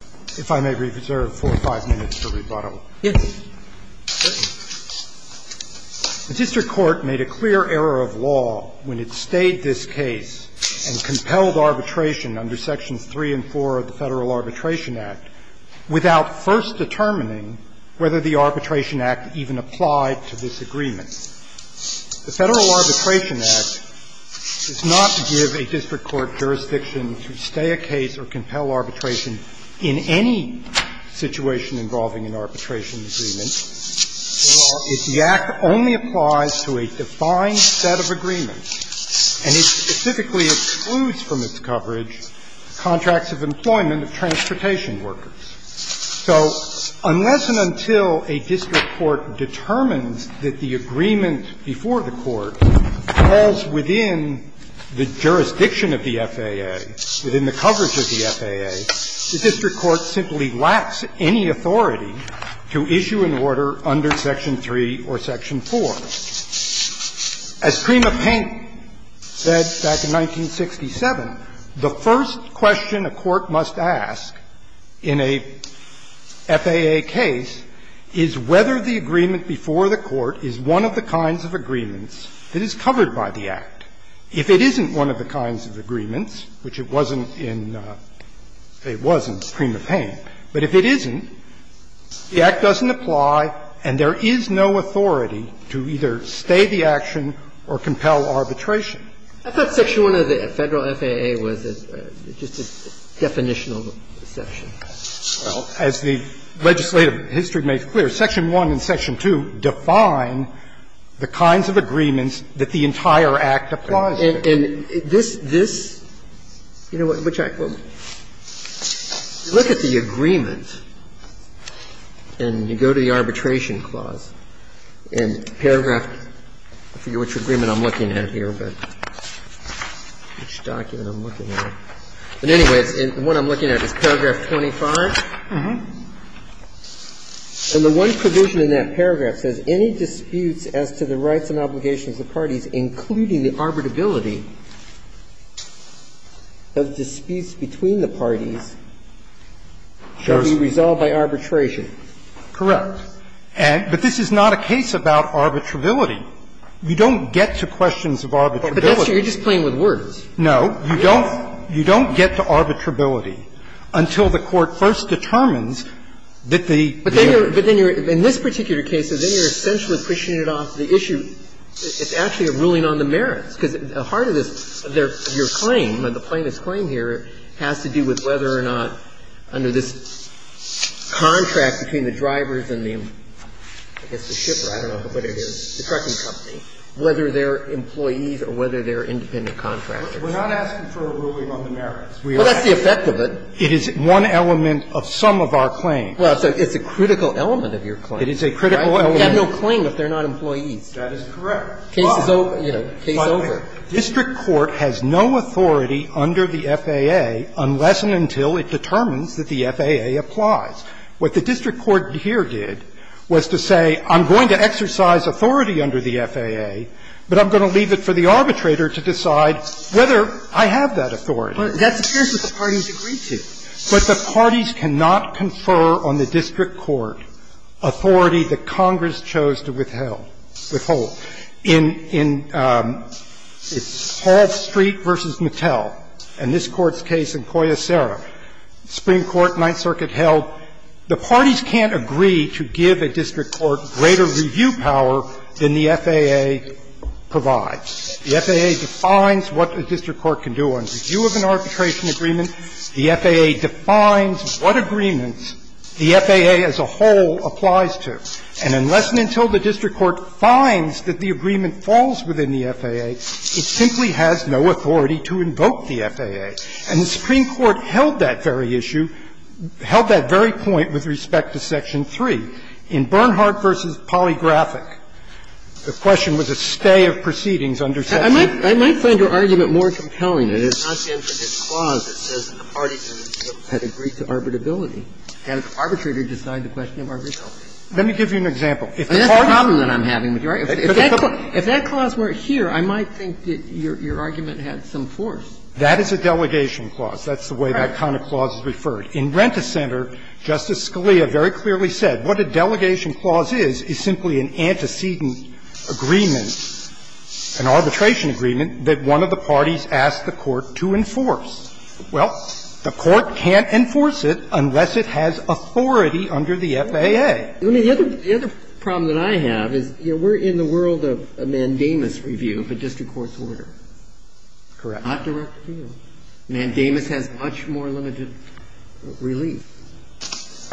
The District Court made a clear error of law when it stayed this case and compelled arbitration under Sections 3 and 4 of the Federal Arbitration Act without first determining whether the Arbitration Act even applied to this agreement. The Federal Arbitration Act does not give a district court jurisdiction to stay a case or compel arbitration in any situation involving an arbitration agreement. The Act only applies to a defined set of agreements, and it specifically excludes from its coverage contracts of employment of transportation workers. So unless and until a district court determines that the agreement before the court falls within the jurisdiction of the FAA, within the coverage of the FAA, the district court simply lacks any authority to issue an order under Section 3 or Section 4. Now, as Crema Payne said back in 1967, the first question a court must ask in a FAA case is whether the agreement before the court is one of the kinds of agreements that is covered by the Act. If it isn't one of the kinds of agreements, which it wasn't in the – it was in Crema Payne, but if it isn't, the Act doesn't apply and there is no authority to either stay the action or compel arbitration. I thought Section 1 of the Federal FAA was just a definitional section. Well, as the legislative history makes clear, Section 1 and Section 2 define the kinds of agreements that the entire Act applies to. And this – this – you know, which I – well, look at the agreement and you go to the I forget which agreement I'm looking at here, but which document I'm looking at. But anyway, the one I'm looking at is paragraph 25. And the one provision in that paragraph says, Any disputes as to the rights and obligations of the parties, including the arbitrability of disputes between the parties, shall be resolved by arbitration. Correct. And – but this is not a case about arbitrability. You don't get to questions of arbitrability. But that's – you're just playing with words. No. You don't – you don't get to arbitrability until the Court first determines that the – But then you're – but then you're – in this particular case, then you're essentially pushing it off the issue – it's actually a ruling on the merits, because the heart of this – your claim, the plaintiff's claim here, has to do with whether or not under this contract between the drivers and the – I guess the shipper, I don't know what it is, the trucking company, whether they're employees or whether they're independent contractors. We're not asking for a ruling on the merits. Well, that's the effect of it. It is one element of some of our claims. Well, it's a critical element of your claim. It is a critical element. You have no claim if they're not employees. That is correct. Case is over. Case is over. District Court has no authority under the FAA unless and until it determines that the FAA applies. What the district court here did was to say, I'm going to exercise authority under the FAA, but I'm going to leave it for the arbitrator to decide whether I have that authority. But that's what the parties agreed to. But the parties cannot confer on the district court authority that Congress chose to withheld. In Hall Street v. Mattel and this Court's case in Coya Serra, Supreme Court, Ninth Circuit held the parties can't agree to give a district court greater review power than the FAA provides. The FAA defines what a district court can do on review of an arbitration agreement. The FAA defines what agreements the FAA as a whole applies to. And unless and until the district court finds that the agreement falls within the FAA, it simply has no authority to invoke the FAA. And the Supreme Court held that very issue, held that very point with respect to Section 3. In Bernhardt v. Polygraphic, the question was a stay of proceedings under Section 3. I might find your argument more compelling that it's not the end of this clause that says that the parties had agreed to arbitrability, and it's arbitrary to decide the question of arbitrability. Let me give you an example. If the parties do not agree to arbitrability, it's arbitrary to decide the question of arbitrability. If that clause weren't here, I might think that your argument had some force. That is a delegation clause. That's the way that kind of clause is referred. In Rent-a-Center, Justice Scalia very clearly said what a delegation clause is, is simply an antecedent agreement, an arbitration agreement, that one of the parties asks the Court to enforce. Well, the Court can't enforce it unless it has authority under the FAA. The other problem that I have is, you know, we're in the world of a mandamus review of a district court's order. Correct. Not direct appeal. Mandamus has much more limited relief.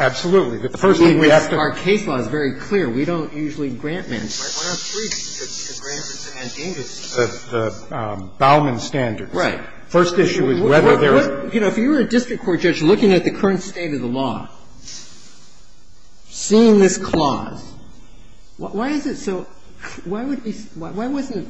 Absolutely. The first thing we have to do is to do is to grant the mandamus the Bauman standards. Right. First issue is whether there are other reasons. If you were a district court judge looking at the current state of the law, seeing this clause, why is it so why would we why wasn't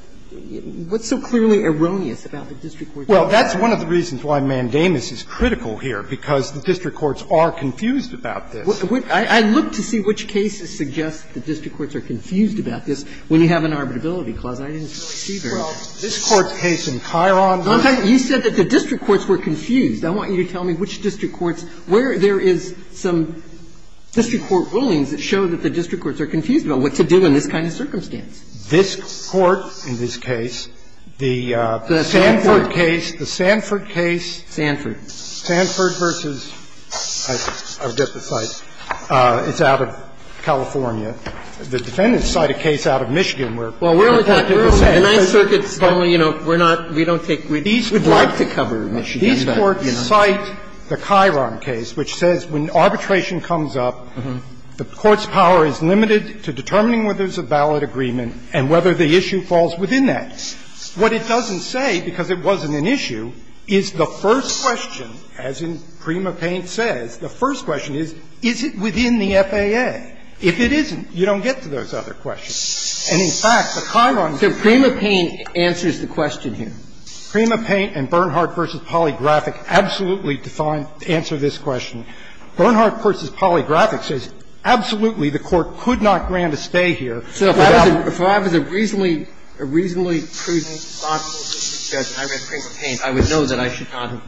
what's so clearly erroneous about the district court's order? Well, that's one of the reasons why mandamus is critical here, because the district courts are confused about this. I look to see which cases suggest the district courts are confused about this when you have an arbitrability clause. I didn't see very much. Well, this Court's case in Chiron. You said that the district courts were confused. I want you to tell me which district courts, where there is some district court rulings that show that the district courts are confused about what to do in this kind of circumstance. This Court in this case, the Sanford case, the Sanford case. Sanford. Sanford versus, I forget the site. It's out of California. The defendant's cited a case out of Michigan where the fact is the same. The Ninth Circuit's only, you know, we're not, we don't take, we'd like to cover Michigan, but, you know. These courts cite the Chiron case, which says when arbitration comes up, the court's power is limited to determining whether there's a ballot agreement and whether the issue falls within that. What it doesn't say, because it wasn't an issue, is the first question, as in Prima Paine says, the first question is, is it within the FAA? If it isn't, you don't get to those other questions. And in fact, the Chiron case. So Prima Paine answers the question here. Prima Paine and Bernhardt v. Polygraphic absolutely define, answer this question. Bernhardt v. Polygraphic says absolutely the court could not grant a stay here without. So if I was a reasonably, reasonably prudent, thoughtful district judge and I read Prima Paine, I would know that I should not have,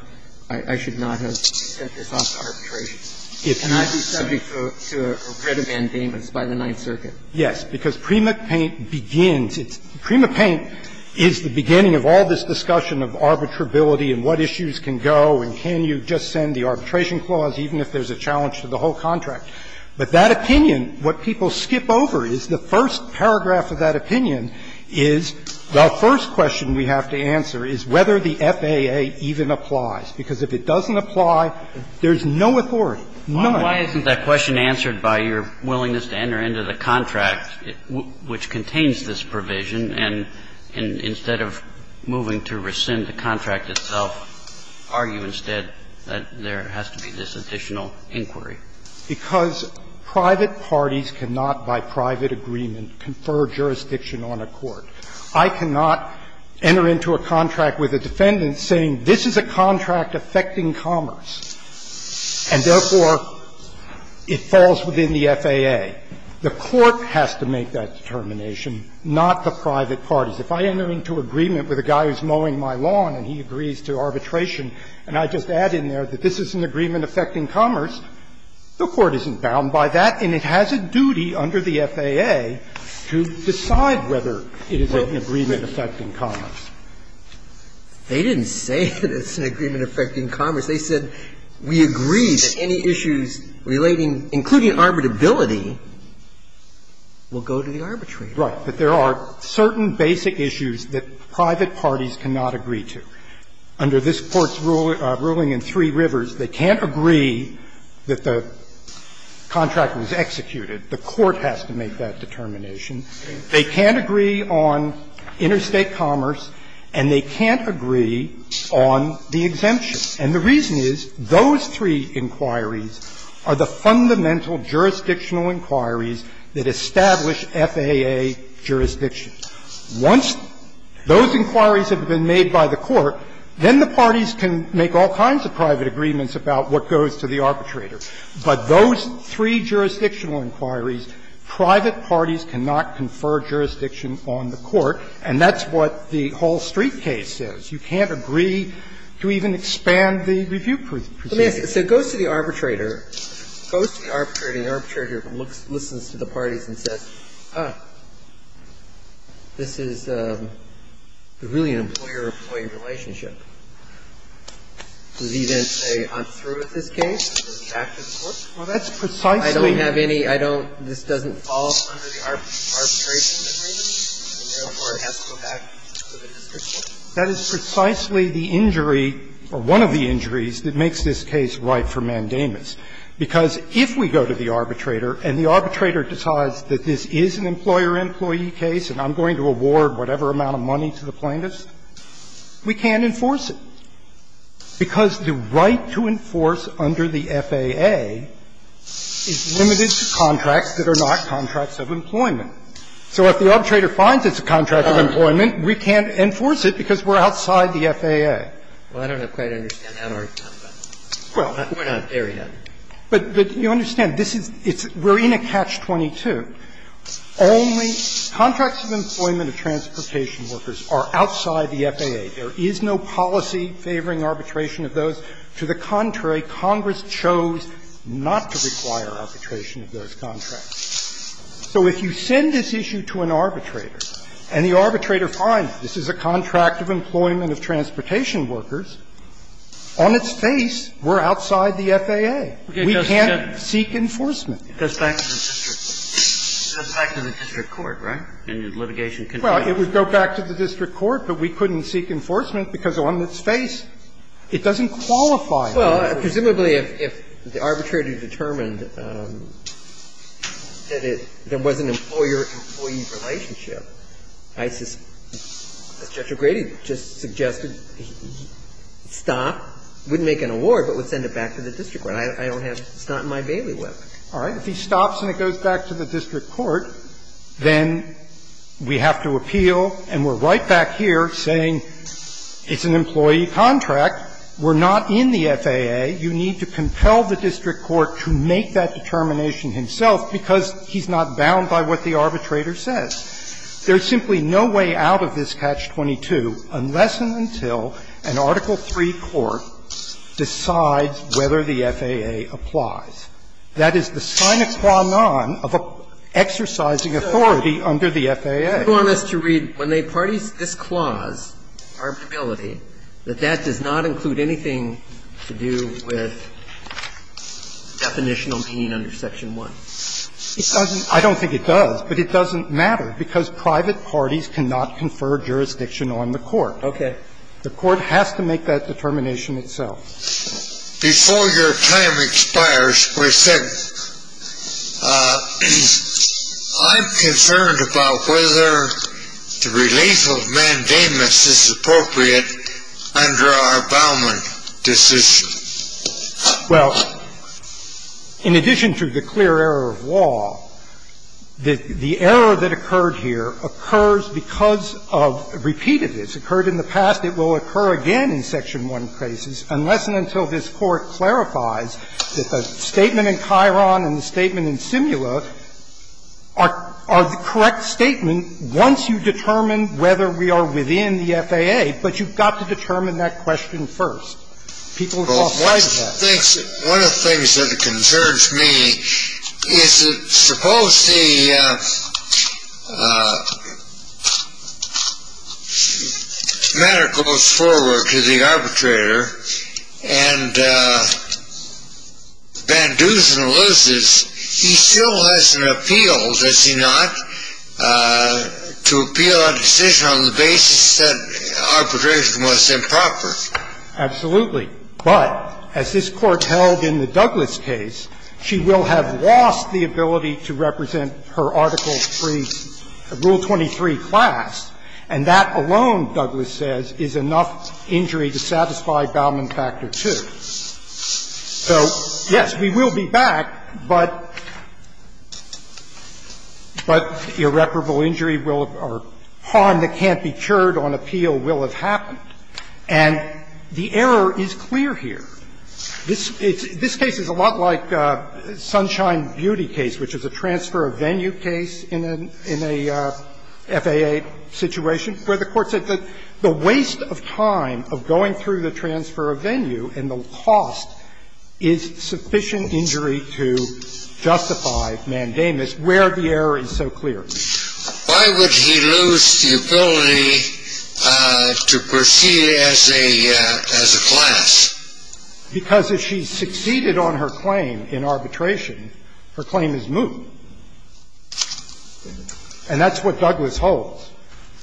I should not have set this off to arbitration. Can I be subject to a writ of mandamus by the Ninth Circuit? Yes, because Prima Paine begins, Prima Paine is the beginning of all this discussion of arbitrability and what issues can go and can you just send the arbitration clause, even if there's a challenge to the whole contract. But that opinion, what people skip over is the first paragraph of that opinion is the first question we have to answer is whether the FAA even applies, because if it doesn't apply, there's no authority, none. So why isn't that question answered by your willingness to enter into the contract, which contains this provision, and instead of moving to rescind the contract itself, argue instead that there has to be this additional inquiry? Because private parties cannot, by private agreement, confer jurisdiction on a court. I cannot enter into a contract with a defendant saying this is a contract affecting commerce and, therefore, it falls within the FAA. The court has to make that determination, not the private parties. If I enter into agreement with a guy who's mowing my lawn and he agrees to arbitration and I just add in there that this is an agreement affecting commerce, the court isn't bound by that and it has a duty under the FAA to decide whether it is an agreement affecting commerce. They didn't say it's an agreement affecting commerce. They said we agree that any issues relating, including arbitrability, will go to the arbitrator. Right. But there are certain basic issues that private parties cannot agree to. Under this Court's ruling in Three Rivers, they can't agree that the contract was executed. The court has to make that determination. They can't agree on interstate commerce and they can't agree on the exemption. And the reason is those three inquiries are the fundamental jurisdictional inquiries that establish FAA jurisdiction. Once those inquiries have been made by the court, then the parties can make all kinds of private agreements about what goes to the arbitrator. But those three jurisdictional inquiries, private parties cannot confer jurisdiction on the court, and that's what the Hall Street case says. You can't agree to even expand the review procedure. So it goes to the arbitrator, goes to the arbitrator, and the arbitrator listens to the parties and says, oh, this is really an employer-employee relationship. Does he then say, I'm through with this case and go back to the court? Well, that's precisely the case. I don't have any – I don't – this doesn't fall under the arbitration agreement, and therefore it has to go back to the district court? That is precisely the injury, or one of the injuries, that makes this case ripe for mandamus. Because if we go to the arbitrator and the arbitrator decides that this is an employer-employee case and I'm going to award whatever amount of money to the plaintiff, we can't enforce it, because the right to enforce under the FAA is limited to contracts that are not contracts of employment. So if the arbitrator finds it's a contract of employment, we can't enforce it because we're outside the FAA. Well, I don't quite understand that argument. Well, we're not there yet. But you understand, this is – we're in a catch-22. Only contracts of employment of transportation workers are outside the FAA. There is no policy favoring arbitration of those. To the contrary, Congress chose not to require arbitration of those contracts. So if you send this issue to an arbitrator and the arbitrator finds this is a contract of employment of transportation workers, on its face we're outside the FAA. We can't seek enforcement. It goes back to the district court, right? And litigation continues. Well, it would go back to the district court, but we couldn't seek enforcement because on its face it doesn't qualify. Well, presumably if the arbitrator determined that it – there was an employer-employee relationship, I suspect – as Judge O'Grady just suggested, he'd stop, wouldn't make an award, but would send it back to the district court. I don't have – it's not in my bailiwick. All right. If he stops and it goes back to the district court, then we have to appeal, and we're right back here saying it's an employee contract, we're not in the FAA, you need to compel the district court to make that determination himself because he's not bound by what the arbitrator says. There's simply no way out of this catch-22 unless and until an Article III court decides whether the FAA applies. That is the sine qua non of an exercising authority under the FAA. So you want us to read, when they parties this clause, arbitrability, that that does not include anything to do with definitional pain under Section 1? It doesn't – I don't think it does, but it doesn't matter because private parties cannot confer jurisdiction on the court. Okay. The court has to make that determination itself. Before your time expires, we said I'm concerned about whether the relief of mandamus is appropriate under our Bauman decision. Well, in addition to the clear error of law, the error that occurred here occurs because of repeated – it's occurred in the past, it will occur again in Section 1 cases, unless and until this Court clarifies that the statement in Chiron and the statement in Simula are the correct statement once you determine whether we are within the FAA, but you've got to determine that question first. People are just blind to that. One of the things that concerns me is that suppose the matter goes forward to the arbitrator, and Banduzin loses, he still has an appeal, does he not, to appeal a decision on the basis that arbitration was improper? Absolutely. But as this Court held in the Douglas case, she will have lost the ability to represent her Article III, Rule 23 class, and that alone, Douglas says, is enough injury to satisfy Bauman Factor II. So, yes, we will be back, but irreparable injury or harm that can't be cured on appeal will have happened. And the error is clear here. This case is a lot like Sunshine Beauty case, which is a transfer of venue case in a FAA situation, where the Court said that the waste of time of going through the transfer of venue and the cost is sufficient injury to justify mandamus, where the error is so clear. Why would he lose the ability to proceed as a class? Because if she succeeded on her claim in arbitration, her claim is moot. And that's what Douglas holds.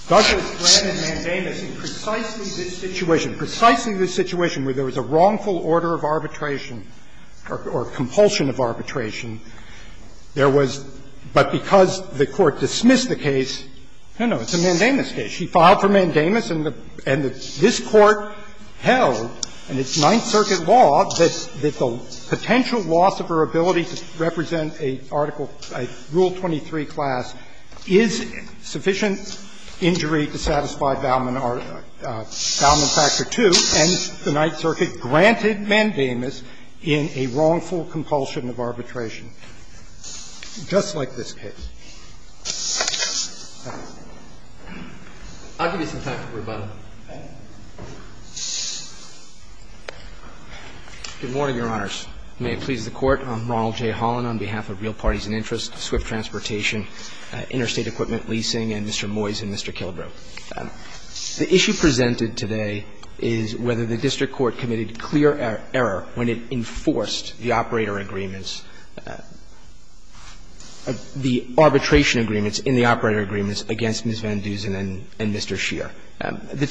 Douglas, Graham, and Mandamus, in precisely this situation, precisely this situation where there was a wrongful order of arbitration or compulsion of arbitration, there was the case of Mandamus, but because the Court dismissed the case, no, no, it's a Mandamus case. She filed for mandamus, and this Court held in its Ninth Circuit law that the potential loss of her ability to represent a Article II, Rule 23 class is sufficient injury to satisfy Bauman Factor II, and the Ninth Circuit granted mandamus in a wrongful compulsion of arbitration. Just like this case. Roberts. I'll give you some time for rebuttal. Good morning, Your Honors. May it please the Court. I'm Ronald J. Holland, on behalf of Real Parties and Interest, Swift Transportation, Interstate Equipment Leasing, and Mr. Moyes and Mr. Killebrew. The issue presented today is whether the district court committed clear error when it enforced the operator agreements, the arbitration agreements in the operator agreements against Ms. Van Dusen and Mr. Scheer. The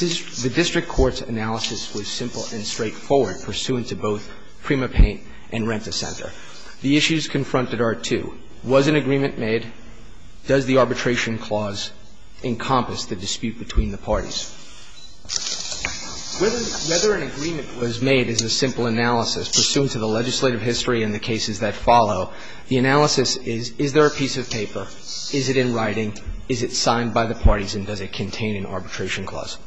district court's analysis was simple and straightforward, pursuant to both Prima Paint and Renta Center. The issues confronted are two. Was an agreement made? Does the arbitration clause encompass the dispute between the parties? Whether an agreement was made is a simple analysis, pursuant to the legislative history and the cases that follow. The analysis is, is there a piece of paper, is it in writing, is it signed by the parties, and does it contain an arbitration clause?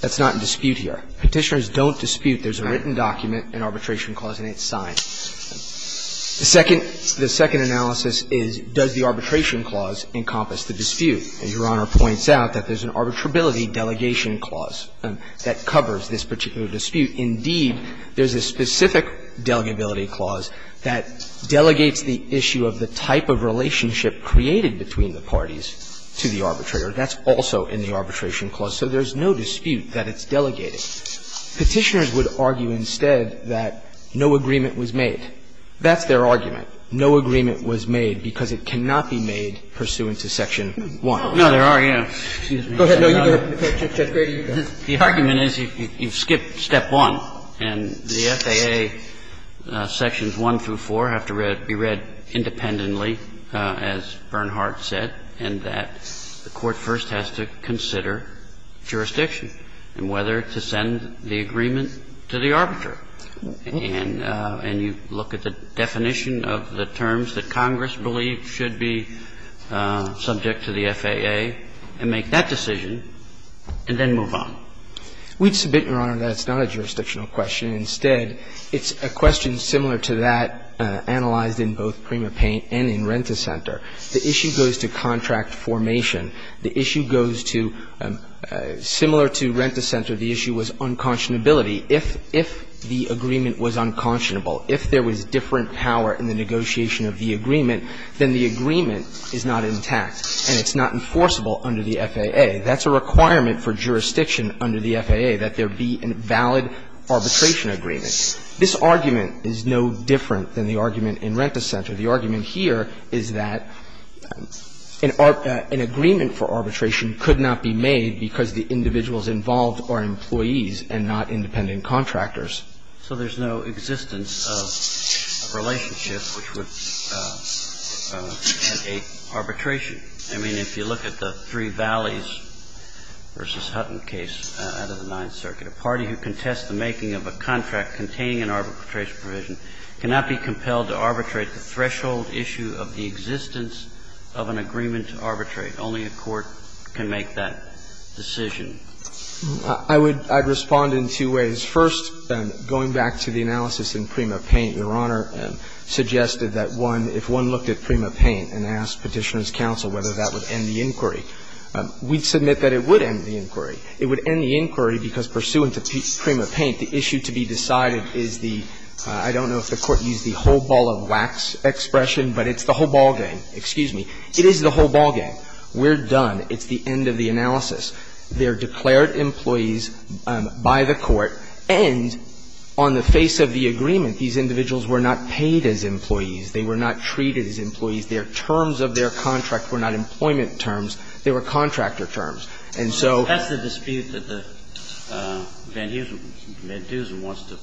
That's not in dispute here. Petitioners don't dispute. There's a written document, an arbitration clause, and it's signed. The second analysis is, does the arbitration clause encompass the dispute? Your Honor points out that there's an arbitrability delegation clause that covers this particular dispute. Indeed, there's a specific delegability clause that delegates the issue of the type of relationship created between the parties to the arbitrator. That's also in the arbitration clause. So there's no dispute that it's delegated. Petitioners would argue instead that no agreement was made. That's their argument. But no agreement was made because it cannot be made pursuant to Section 1. No, there are, you know, excuse me. Go ahead. No, you do it. Judge Grady, you can. The argument is you skip Step 1, and the FAA Sections 1 through 4 have to read, be read independently, as Bernhard said, and that the court first has to consider jurisdiction and whether to send the agreement to the arbiter. And you look at the definition of the terms that Congress believes should be subject to the FAA and make that decision, and then move on. We'd submit, Your Honor, that it's not a jurisdictional question. Instead, it's a question similar to that analyzed in both PrimaPaint and in Rent-a-Center. The issue goes to contract formation. The issue goes to — similar to Rent-a-Center, the issue was unconscionability. If the agreement was unconscionable, if there was different power in the negotiation of the agreement, then the agreement is not intact, and it's not enforceable under the FAA. That's a requirement for jurisdiction under the FAA, that there be a valid arbitration agreement. This argument is no different than the argument in Rent-a-Center. The argument here is that an agreement for arbitration could not be made because the individuals involved are employees and not independent contractors. So there's no existence of a relationship which would entail arbitration. I mean, if you look at the Three Valleys v. Hutton case out of the Ninth Circuit, a party who contests the making of a contract containing an arbitration provision cannot be compelled to arbitrate the threshold issue of the existence of an agreement to arbitrate. Only a court can make that decision. I would — I'd respond in two ways. First, going back to the analysis in PrimaPaint, Your Honor suggested that one — if one looked at PrimaPaint and asked Petitioner's counsel whether that would end the inquiry, we'd submit that it would end the inquiry. It would end the inquiry because, pursuant to PrimaPaint, the issue to be decided is the — I don't know if the Court used the whole ball of wax expression, but it's the whole ball game. Excuse me. It is the whole ball game. We're done. It's the end of the analysis. They're declared employees by the Court. And on the face of the agreement, these individuals were not paid as employees. They were not treated as employees. Their terms of their contract were not employment terms. They were contractor terms. And so — That's the dispute that the — Van Heusen — Van Heusen wants to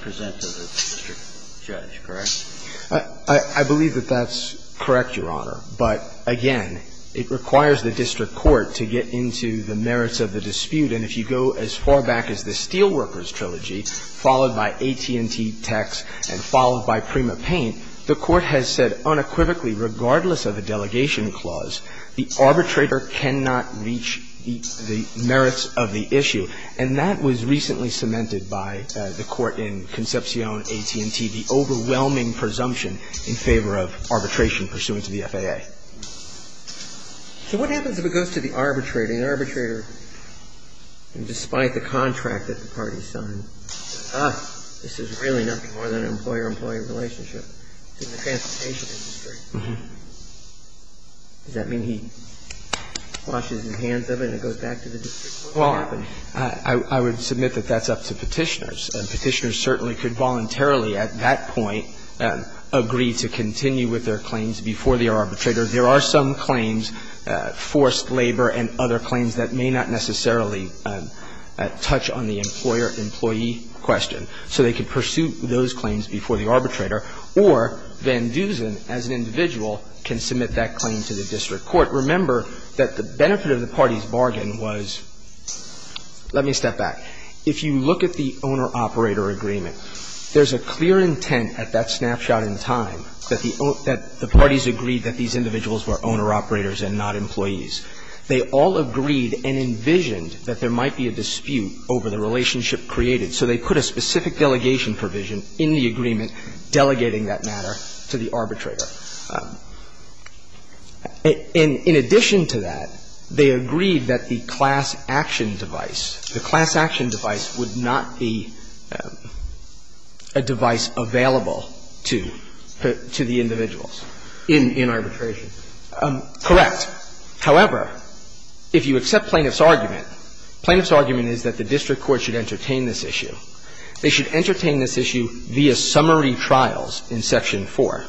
present to the district judge, correct? I believe that that's correct, Your Honor. But, again, it requires the district court to get into the merits of the dispute. And if you go as far back as the Steelworkers Trilogy, followed by AT&T, Tex, and followed by PrimaPaint, the Court has said unequivocally, regardless of the delegation clause, the arbitrator cannot reach the merits of the issue. And that was recently cemented by the Court in Concepcion, AT&T, the overwhelming presumption in favor of arbitration pursuant to the FAA. So what happens if it goes to the arbitrator? And the arbitrator, despite the contract that the party signed, says, ah, this is really nothing more than an employer-employee relationship. It's in the transportation industry. Does that mean he washes his hands of it and it goes back to the district court? Well, I would submit that that's up to Petitioners. Petitioners certainly could voluntarily at that point agree to continue with their claims before the arbitrator. There are some claims, forced labor and other claims, that may not necessarily touch on the employer-employee question. So they could pursue those claims before the arbitrator. Or Van Dusen, as an individual, can submit that claim to the district court. Remember that the benefit of the party's bargain was — let me step back. If you look at the owner-operator agreement, there's a clear intent at that snapshot in time that the parties agreed that these individuals were owner-operators and not employees. They all agreed and envisioned that there might be a dispute over the relationship created. So they put a specific delegation provision in the agreement delegating that matter to the arbitrator. In addition to that, they agreed that the class action device, the class action device, would not be a device available to the individuals in arbitration. Correct. However, if you accept Plaintiff's argument, Plaintiff's argument is that the district court should entertain this issue. They should entertain this issue via summary trials in Section 4,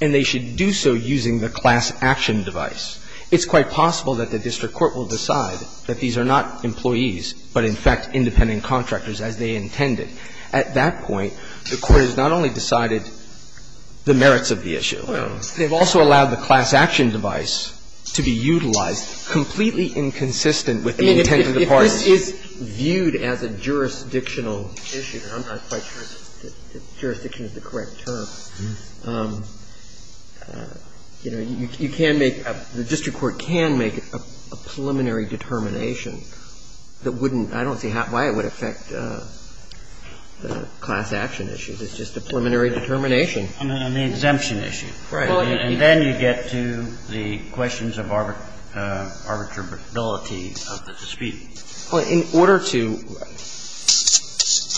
and they should do so using the class action device. It's quite possible that the district court will decide that these are not employees, but, in fact, independent contractors, as they intended. At that point, the Court has not only decided the merits of the issue, they've also allowed the class action device to be utilized completely inconsistent with the intent of the parties. I mean, if this is viewed as a jurisdictional issue, and I'm not quite sure if jurisdiction is the correct term, you know, you can make a — the district court can make a preliminary determination that wouldn't — I don't see how — why it would affect the class action issue. It's just a preliminary determination. I mean, on the exemption issue. Right. And then you get to the questions of arbitrability of the dispute. Well, in order to —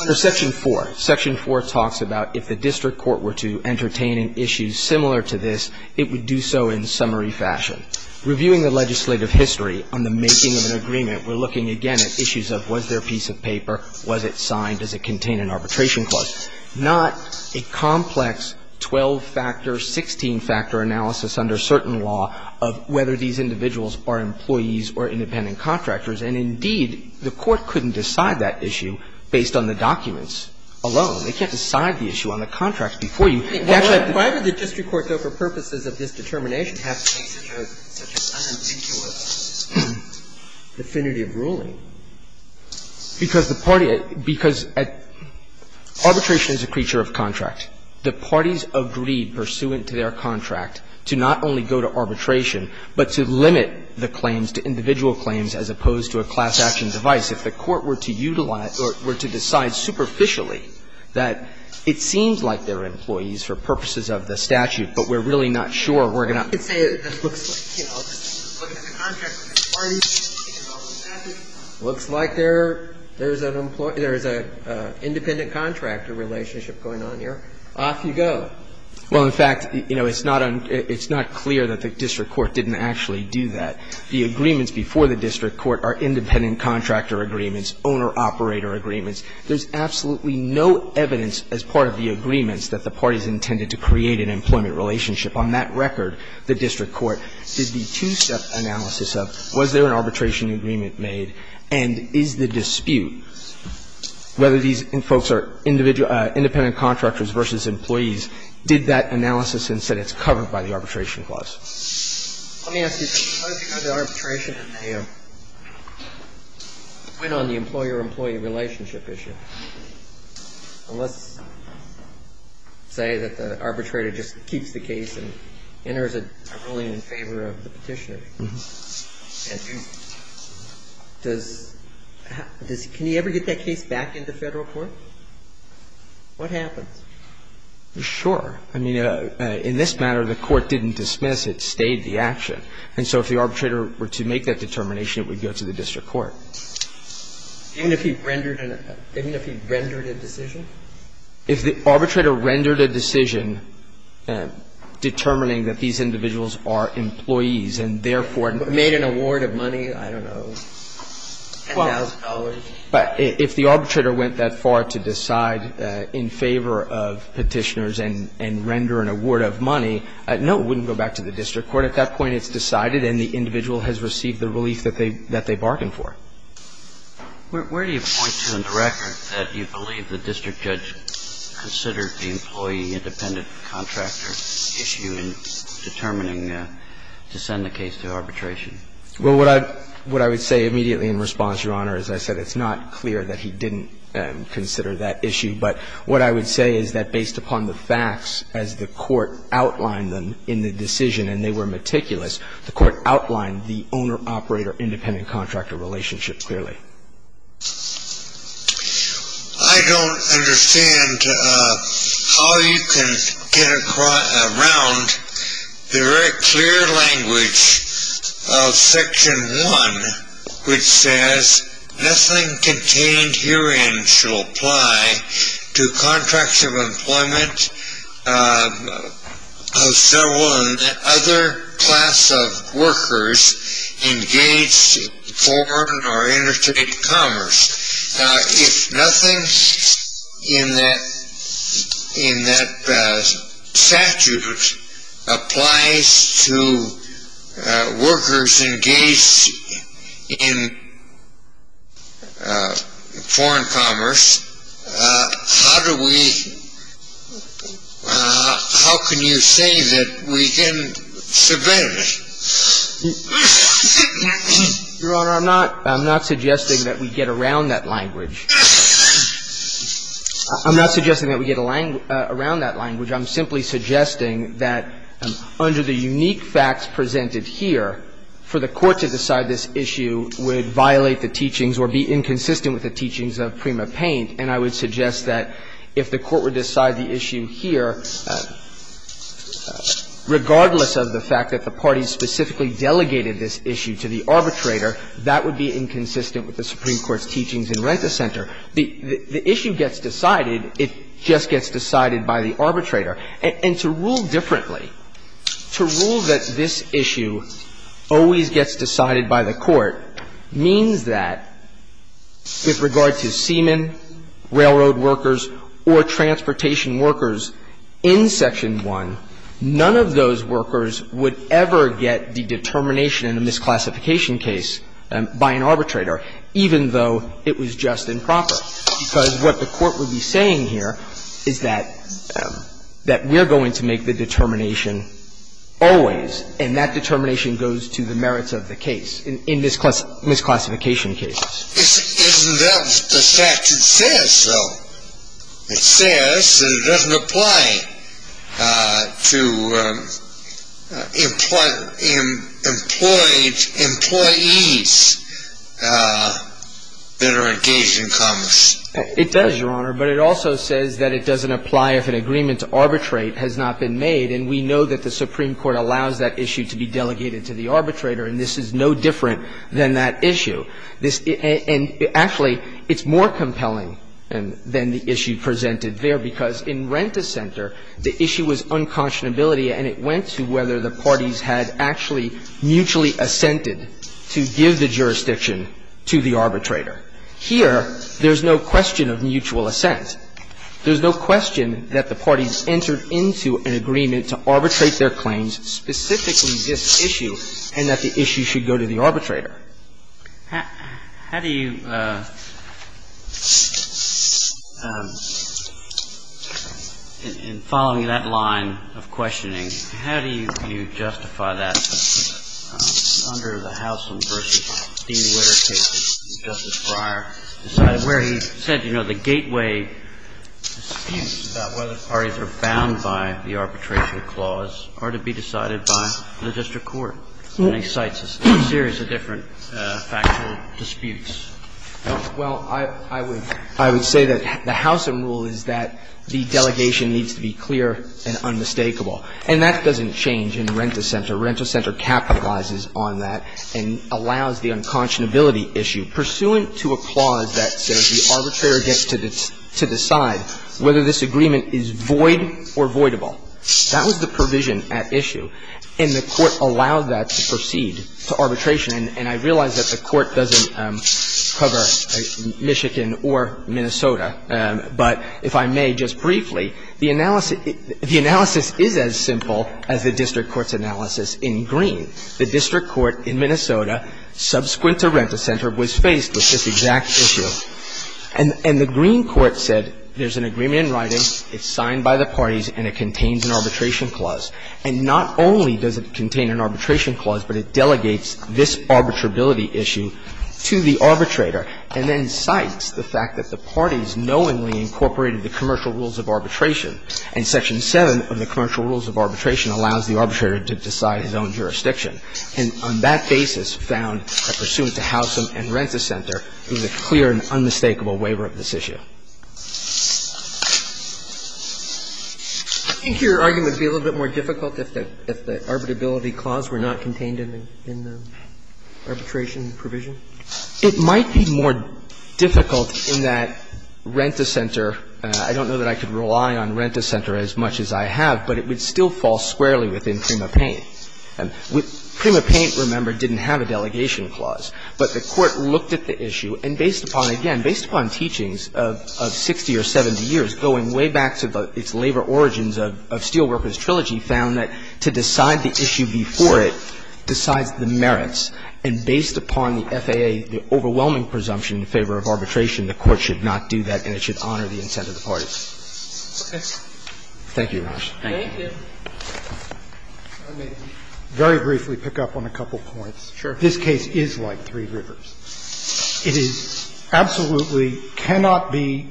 under Section 4, Section 4 talks about if the district court were to entertain an issue similar to this, it would do so in summary fashion. Reviewing the legislative history on the making of an agreement, we're looking again at issues of was there a piece of paper, was it signed, does it contain an arbitration clause, not a complex 12-factor, 16-factor analysis under certain law of whether these individuals are employees or independent contractors. And, indeed, the Court couldn't decide that issue based on the documents alone. They can't decide the issue on the contracts before you. It actually — Why would the district court, though, for purposes of this determination have to make such a — such an unambiguous definitive ruling? Because the party — because arbitration is a creature of contract. The parties agreed, pursuant to their contract, to not only go to arbitration, but to limit the claims to individual claims as opposed to a class action device. If the Court were to utilize — were to decide superficially that it seems like they're employees for purposes of the statute, but we're really not sure, we're going to And so, I mean, I could say that it looks like, you know, we're looking at the contract with the parties, we're looking at the 12-factor. It looks like there's an employee — there's an independent contractor relationship going on here. Off you go. Well, in fact, you know, it's not unclear that the district court didn't actually do that. The agreements before the district court are independent contractor agreements, owner-operator agreements. There's absolutely no evidence as part of the agreements that the parties intended to create an employment relationship. On that record, the district court did the two-step analysis of, was there an arbitration agreement made, and is the dispute, whether these folks are individual — independent contractors versus employees, did that analysis and said it's covered by the arbitration clause. Let me ask you, suppose you go to arbitration and they went on the employer-employee relationship issue, and let's say that the arbitrator just keeps the case and enters a ruling in favor of the petitioner, and does — can he ever get that case back into federal court? What happens? Sure. I mean, in this matter, the court didn't dismiss. It stayed the action. And so if the arbitrator were to make that determination, it would go to the district court. Even if he rendered a decision? If the arbitrator rendered a decision determining that these individuals are employees and therefore — Made an award of money, I don't know, $10,000. But if the arbitrator went that far to decide in favor of petitioners and render an award of money, no, it wouldn't go back to the district court. At that point, it's decided and the individual has received the relief that they — that they bargained for. Where do you point to in the record that you believe the district judge considered the employee-independent contractor issue in determining to send the case to arbitration? Well, what I would say immediately in response, Your Honor, is I said it's not clear that he didn't consider that issue. But what I would say is that based upon the facts, as the court outlined them in the decision and they were meticulous, the court outlined the owner-operator-independent contractor relationship clearly. I don't understand how you can get around the very clear language of Section 1, which says nothing contained herein shall apply to contracts of employment of several other class of workers engaged in foreign or interstate commerce. Now, if nothing in that statute applies to workers engaged in foreign commerce, how do Your Honor, I'm not — I'm not suggesting that we get around that language. I'm not suggesting that we get around that language. I'm simply suggesting that under the unique facts presented here, for the court to decide this issue would violate the teachings or be inconsistent with the teachings of Prima Paine, and I would suggest that if the court would decide the issue here, regardless of the fact that the parties specifically delegated this issue to the arbitrator, that would be inconsistent with the Supreme Court's teachings in Renta Center. The issue gets decided. It just gets decided by the arbitrator. And to rule differently, to rule that this issue always gets decided by the court means that with regard to seamen, railroad workers, or transportation workers in Section 1, none of those workers would ever get the determination in a misclassification case by an arbitrator, even though it was just and proper, because what the court would be saying here is that we're going to make the determination always, and that determination goes to the merits of the case in misclassification cases. Isn't that the fact it says, though? It says that it doesn't apply to employees that are engaged in commerce. It does, Your Honor, but it also says that it doesn't apply if an agreement to arbitrate has not been made, and we know that the Supreme Court allows that issue to be delegated to the arbitrator, and this is no different than that issue. And actually, it's more compelling than the issue presented there, because in Renta Center, the issue was unconscionability, and it went to whether the parties had actually mutually assented to give the jurisdiction to the arbitrator. Here, there's no question of mutual assent. There's no question that the parties entered into an agreement to arbitrate their claims, specifically this issue, and that the issue should go to the arbitrator. Kennedy. The question is, how do you, in following that line of questioning, how do you justify that under the Howsam v. Steele literature, where Justice Breyer decided, where he said, you know, the gateway disputes about whether parties are bound by the arbitration clause are to be decided by the district court? And he cites a series of different factual disputes. Well, I would say that the Howsam rule is that the delegation needs to be clear and unmistakable, and that doesn't change in Renta Center. Renta Center capitalizes on that and allows the unconscionability issue. Pursuant to a clause that says the arbitrator gets to decide whether this agreement is void or voidable, that was the provision at issue, and the Court allowed that to proceed to arbitration. And I realize that the Court doesn't cover Michigan or Minnesota, but if I may just briefly, the analysis is as simple as the district court's analysis in Green. The district court in Minnesota, subsequent to Renta Center, was faced with this exact issue. And the Green court said there's an agreement in writing, it's signed by the parties, and it contains an arbitration clause. And not only does it contain an arbitration clause, but it delegates this arbitrability issue to the arbitrator and then cites the fact that the parties knowingly incorporated the commercial rules of arbitration. And Section 7 of the commercial rules of arbitration allows the arbitrator to decide his own jurisdiction. And on that basis found that pursuant to Howsam and Renta Center, there's a clear and unmistakable waiver of this issue. I think your argument would be a little bit more difficult if the arbitrability clause were not contained in the arbitration provision. It might be more difficult in that Renta Center, I don't know that I could rely on Renta Center as much as I have, but it would still fall squarely within Prima Payne. And Prima Payne, remember, didn't have a delegation clause. But the Court looked at the issue and based upon, again, based upon teachings of 60 or 70 years going way back to its labor origins of Steelworkers Trilogy, found that to decide the issue before it decides the merits. And based upon the FAA, the overwhelming presumption in favor of arbitration, the Court should not do that and it should honor the intent of the parties. Thank you, Your Honor. Thank you. I may very briefly pick up on a couple points. This case is like Three Rivers. It is absolutely cannot be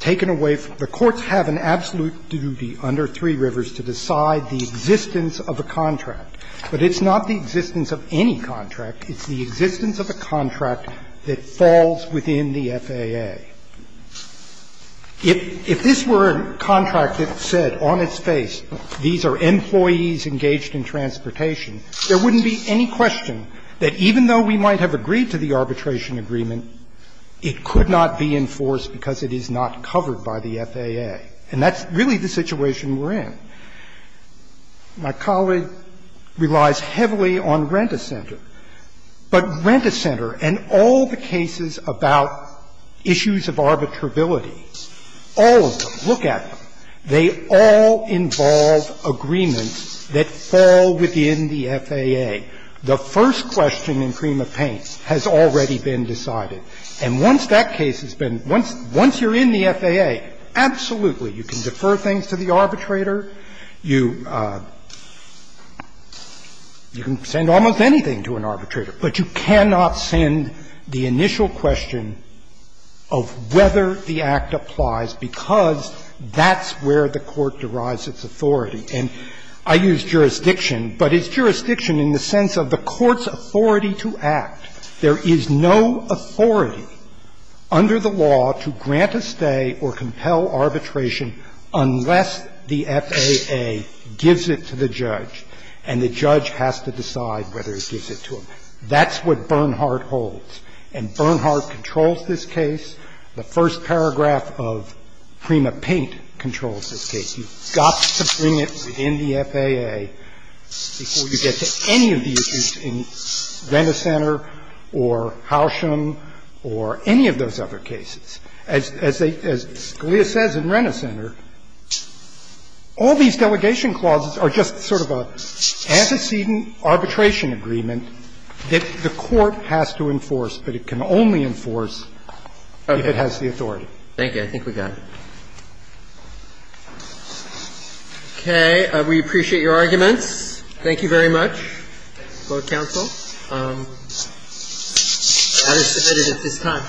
taken away from the courts have an absolute duty under Three Rivers to decide the existence of a contract. But it's not the existence of any contract. It's the existence of a contract that falls within the FAA. If this were a contract that said on its face, these are employees engaged in transportation, there wouldn't be any question that even though we might have agreed to the arbitration agreement, it could not be enforced because it is not covered by the FAA. And that's really the situation we're in. My colleague relies heavily on Rent-A-Center. But Rent-A-Center and all the cases about issues of arbitrability, all of them, look at them. They all involve agreements that fall within the FAA. The first question in cream of paint has already been decided. And once that case has been, once you're in the FAA, absolutely, you can defer things to the arbitrator. You can send almost anything to an arbitrator, but you cannot send the initial question of whether the act applies because that's where the court derives its authority. And I use jurisdiction, but it's jurisdiction in the sense of the court's authority to act. There is no authority under the law to grant a stay or compel arbitration unless the FAA gives it to the judge and the judge has to decide whether it gives it to him. That's what Bernhardt holds. And Bernhardt controls this case. The first paragraph of cream of paint controls this case. You've got to bring it within the FAA before you get to any of the issues in Rent-A-Center or Housham or any of those other cases. And that's what Bernhardt controls this case. As Scalia says in Rent-A-Center, all these delegation clauses are just sort of a antecedent arbitration agreement that the court has to enforce, but it can only enforce if it has the authority. Thank you. I think we got it. Okay. We appreciate your arguments. Thank you very much. Thank you for your counsel. I will submit it at this time.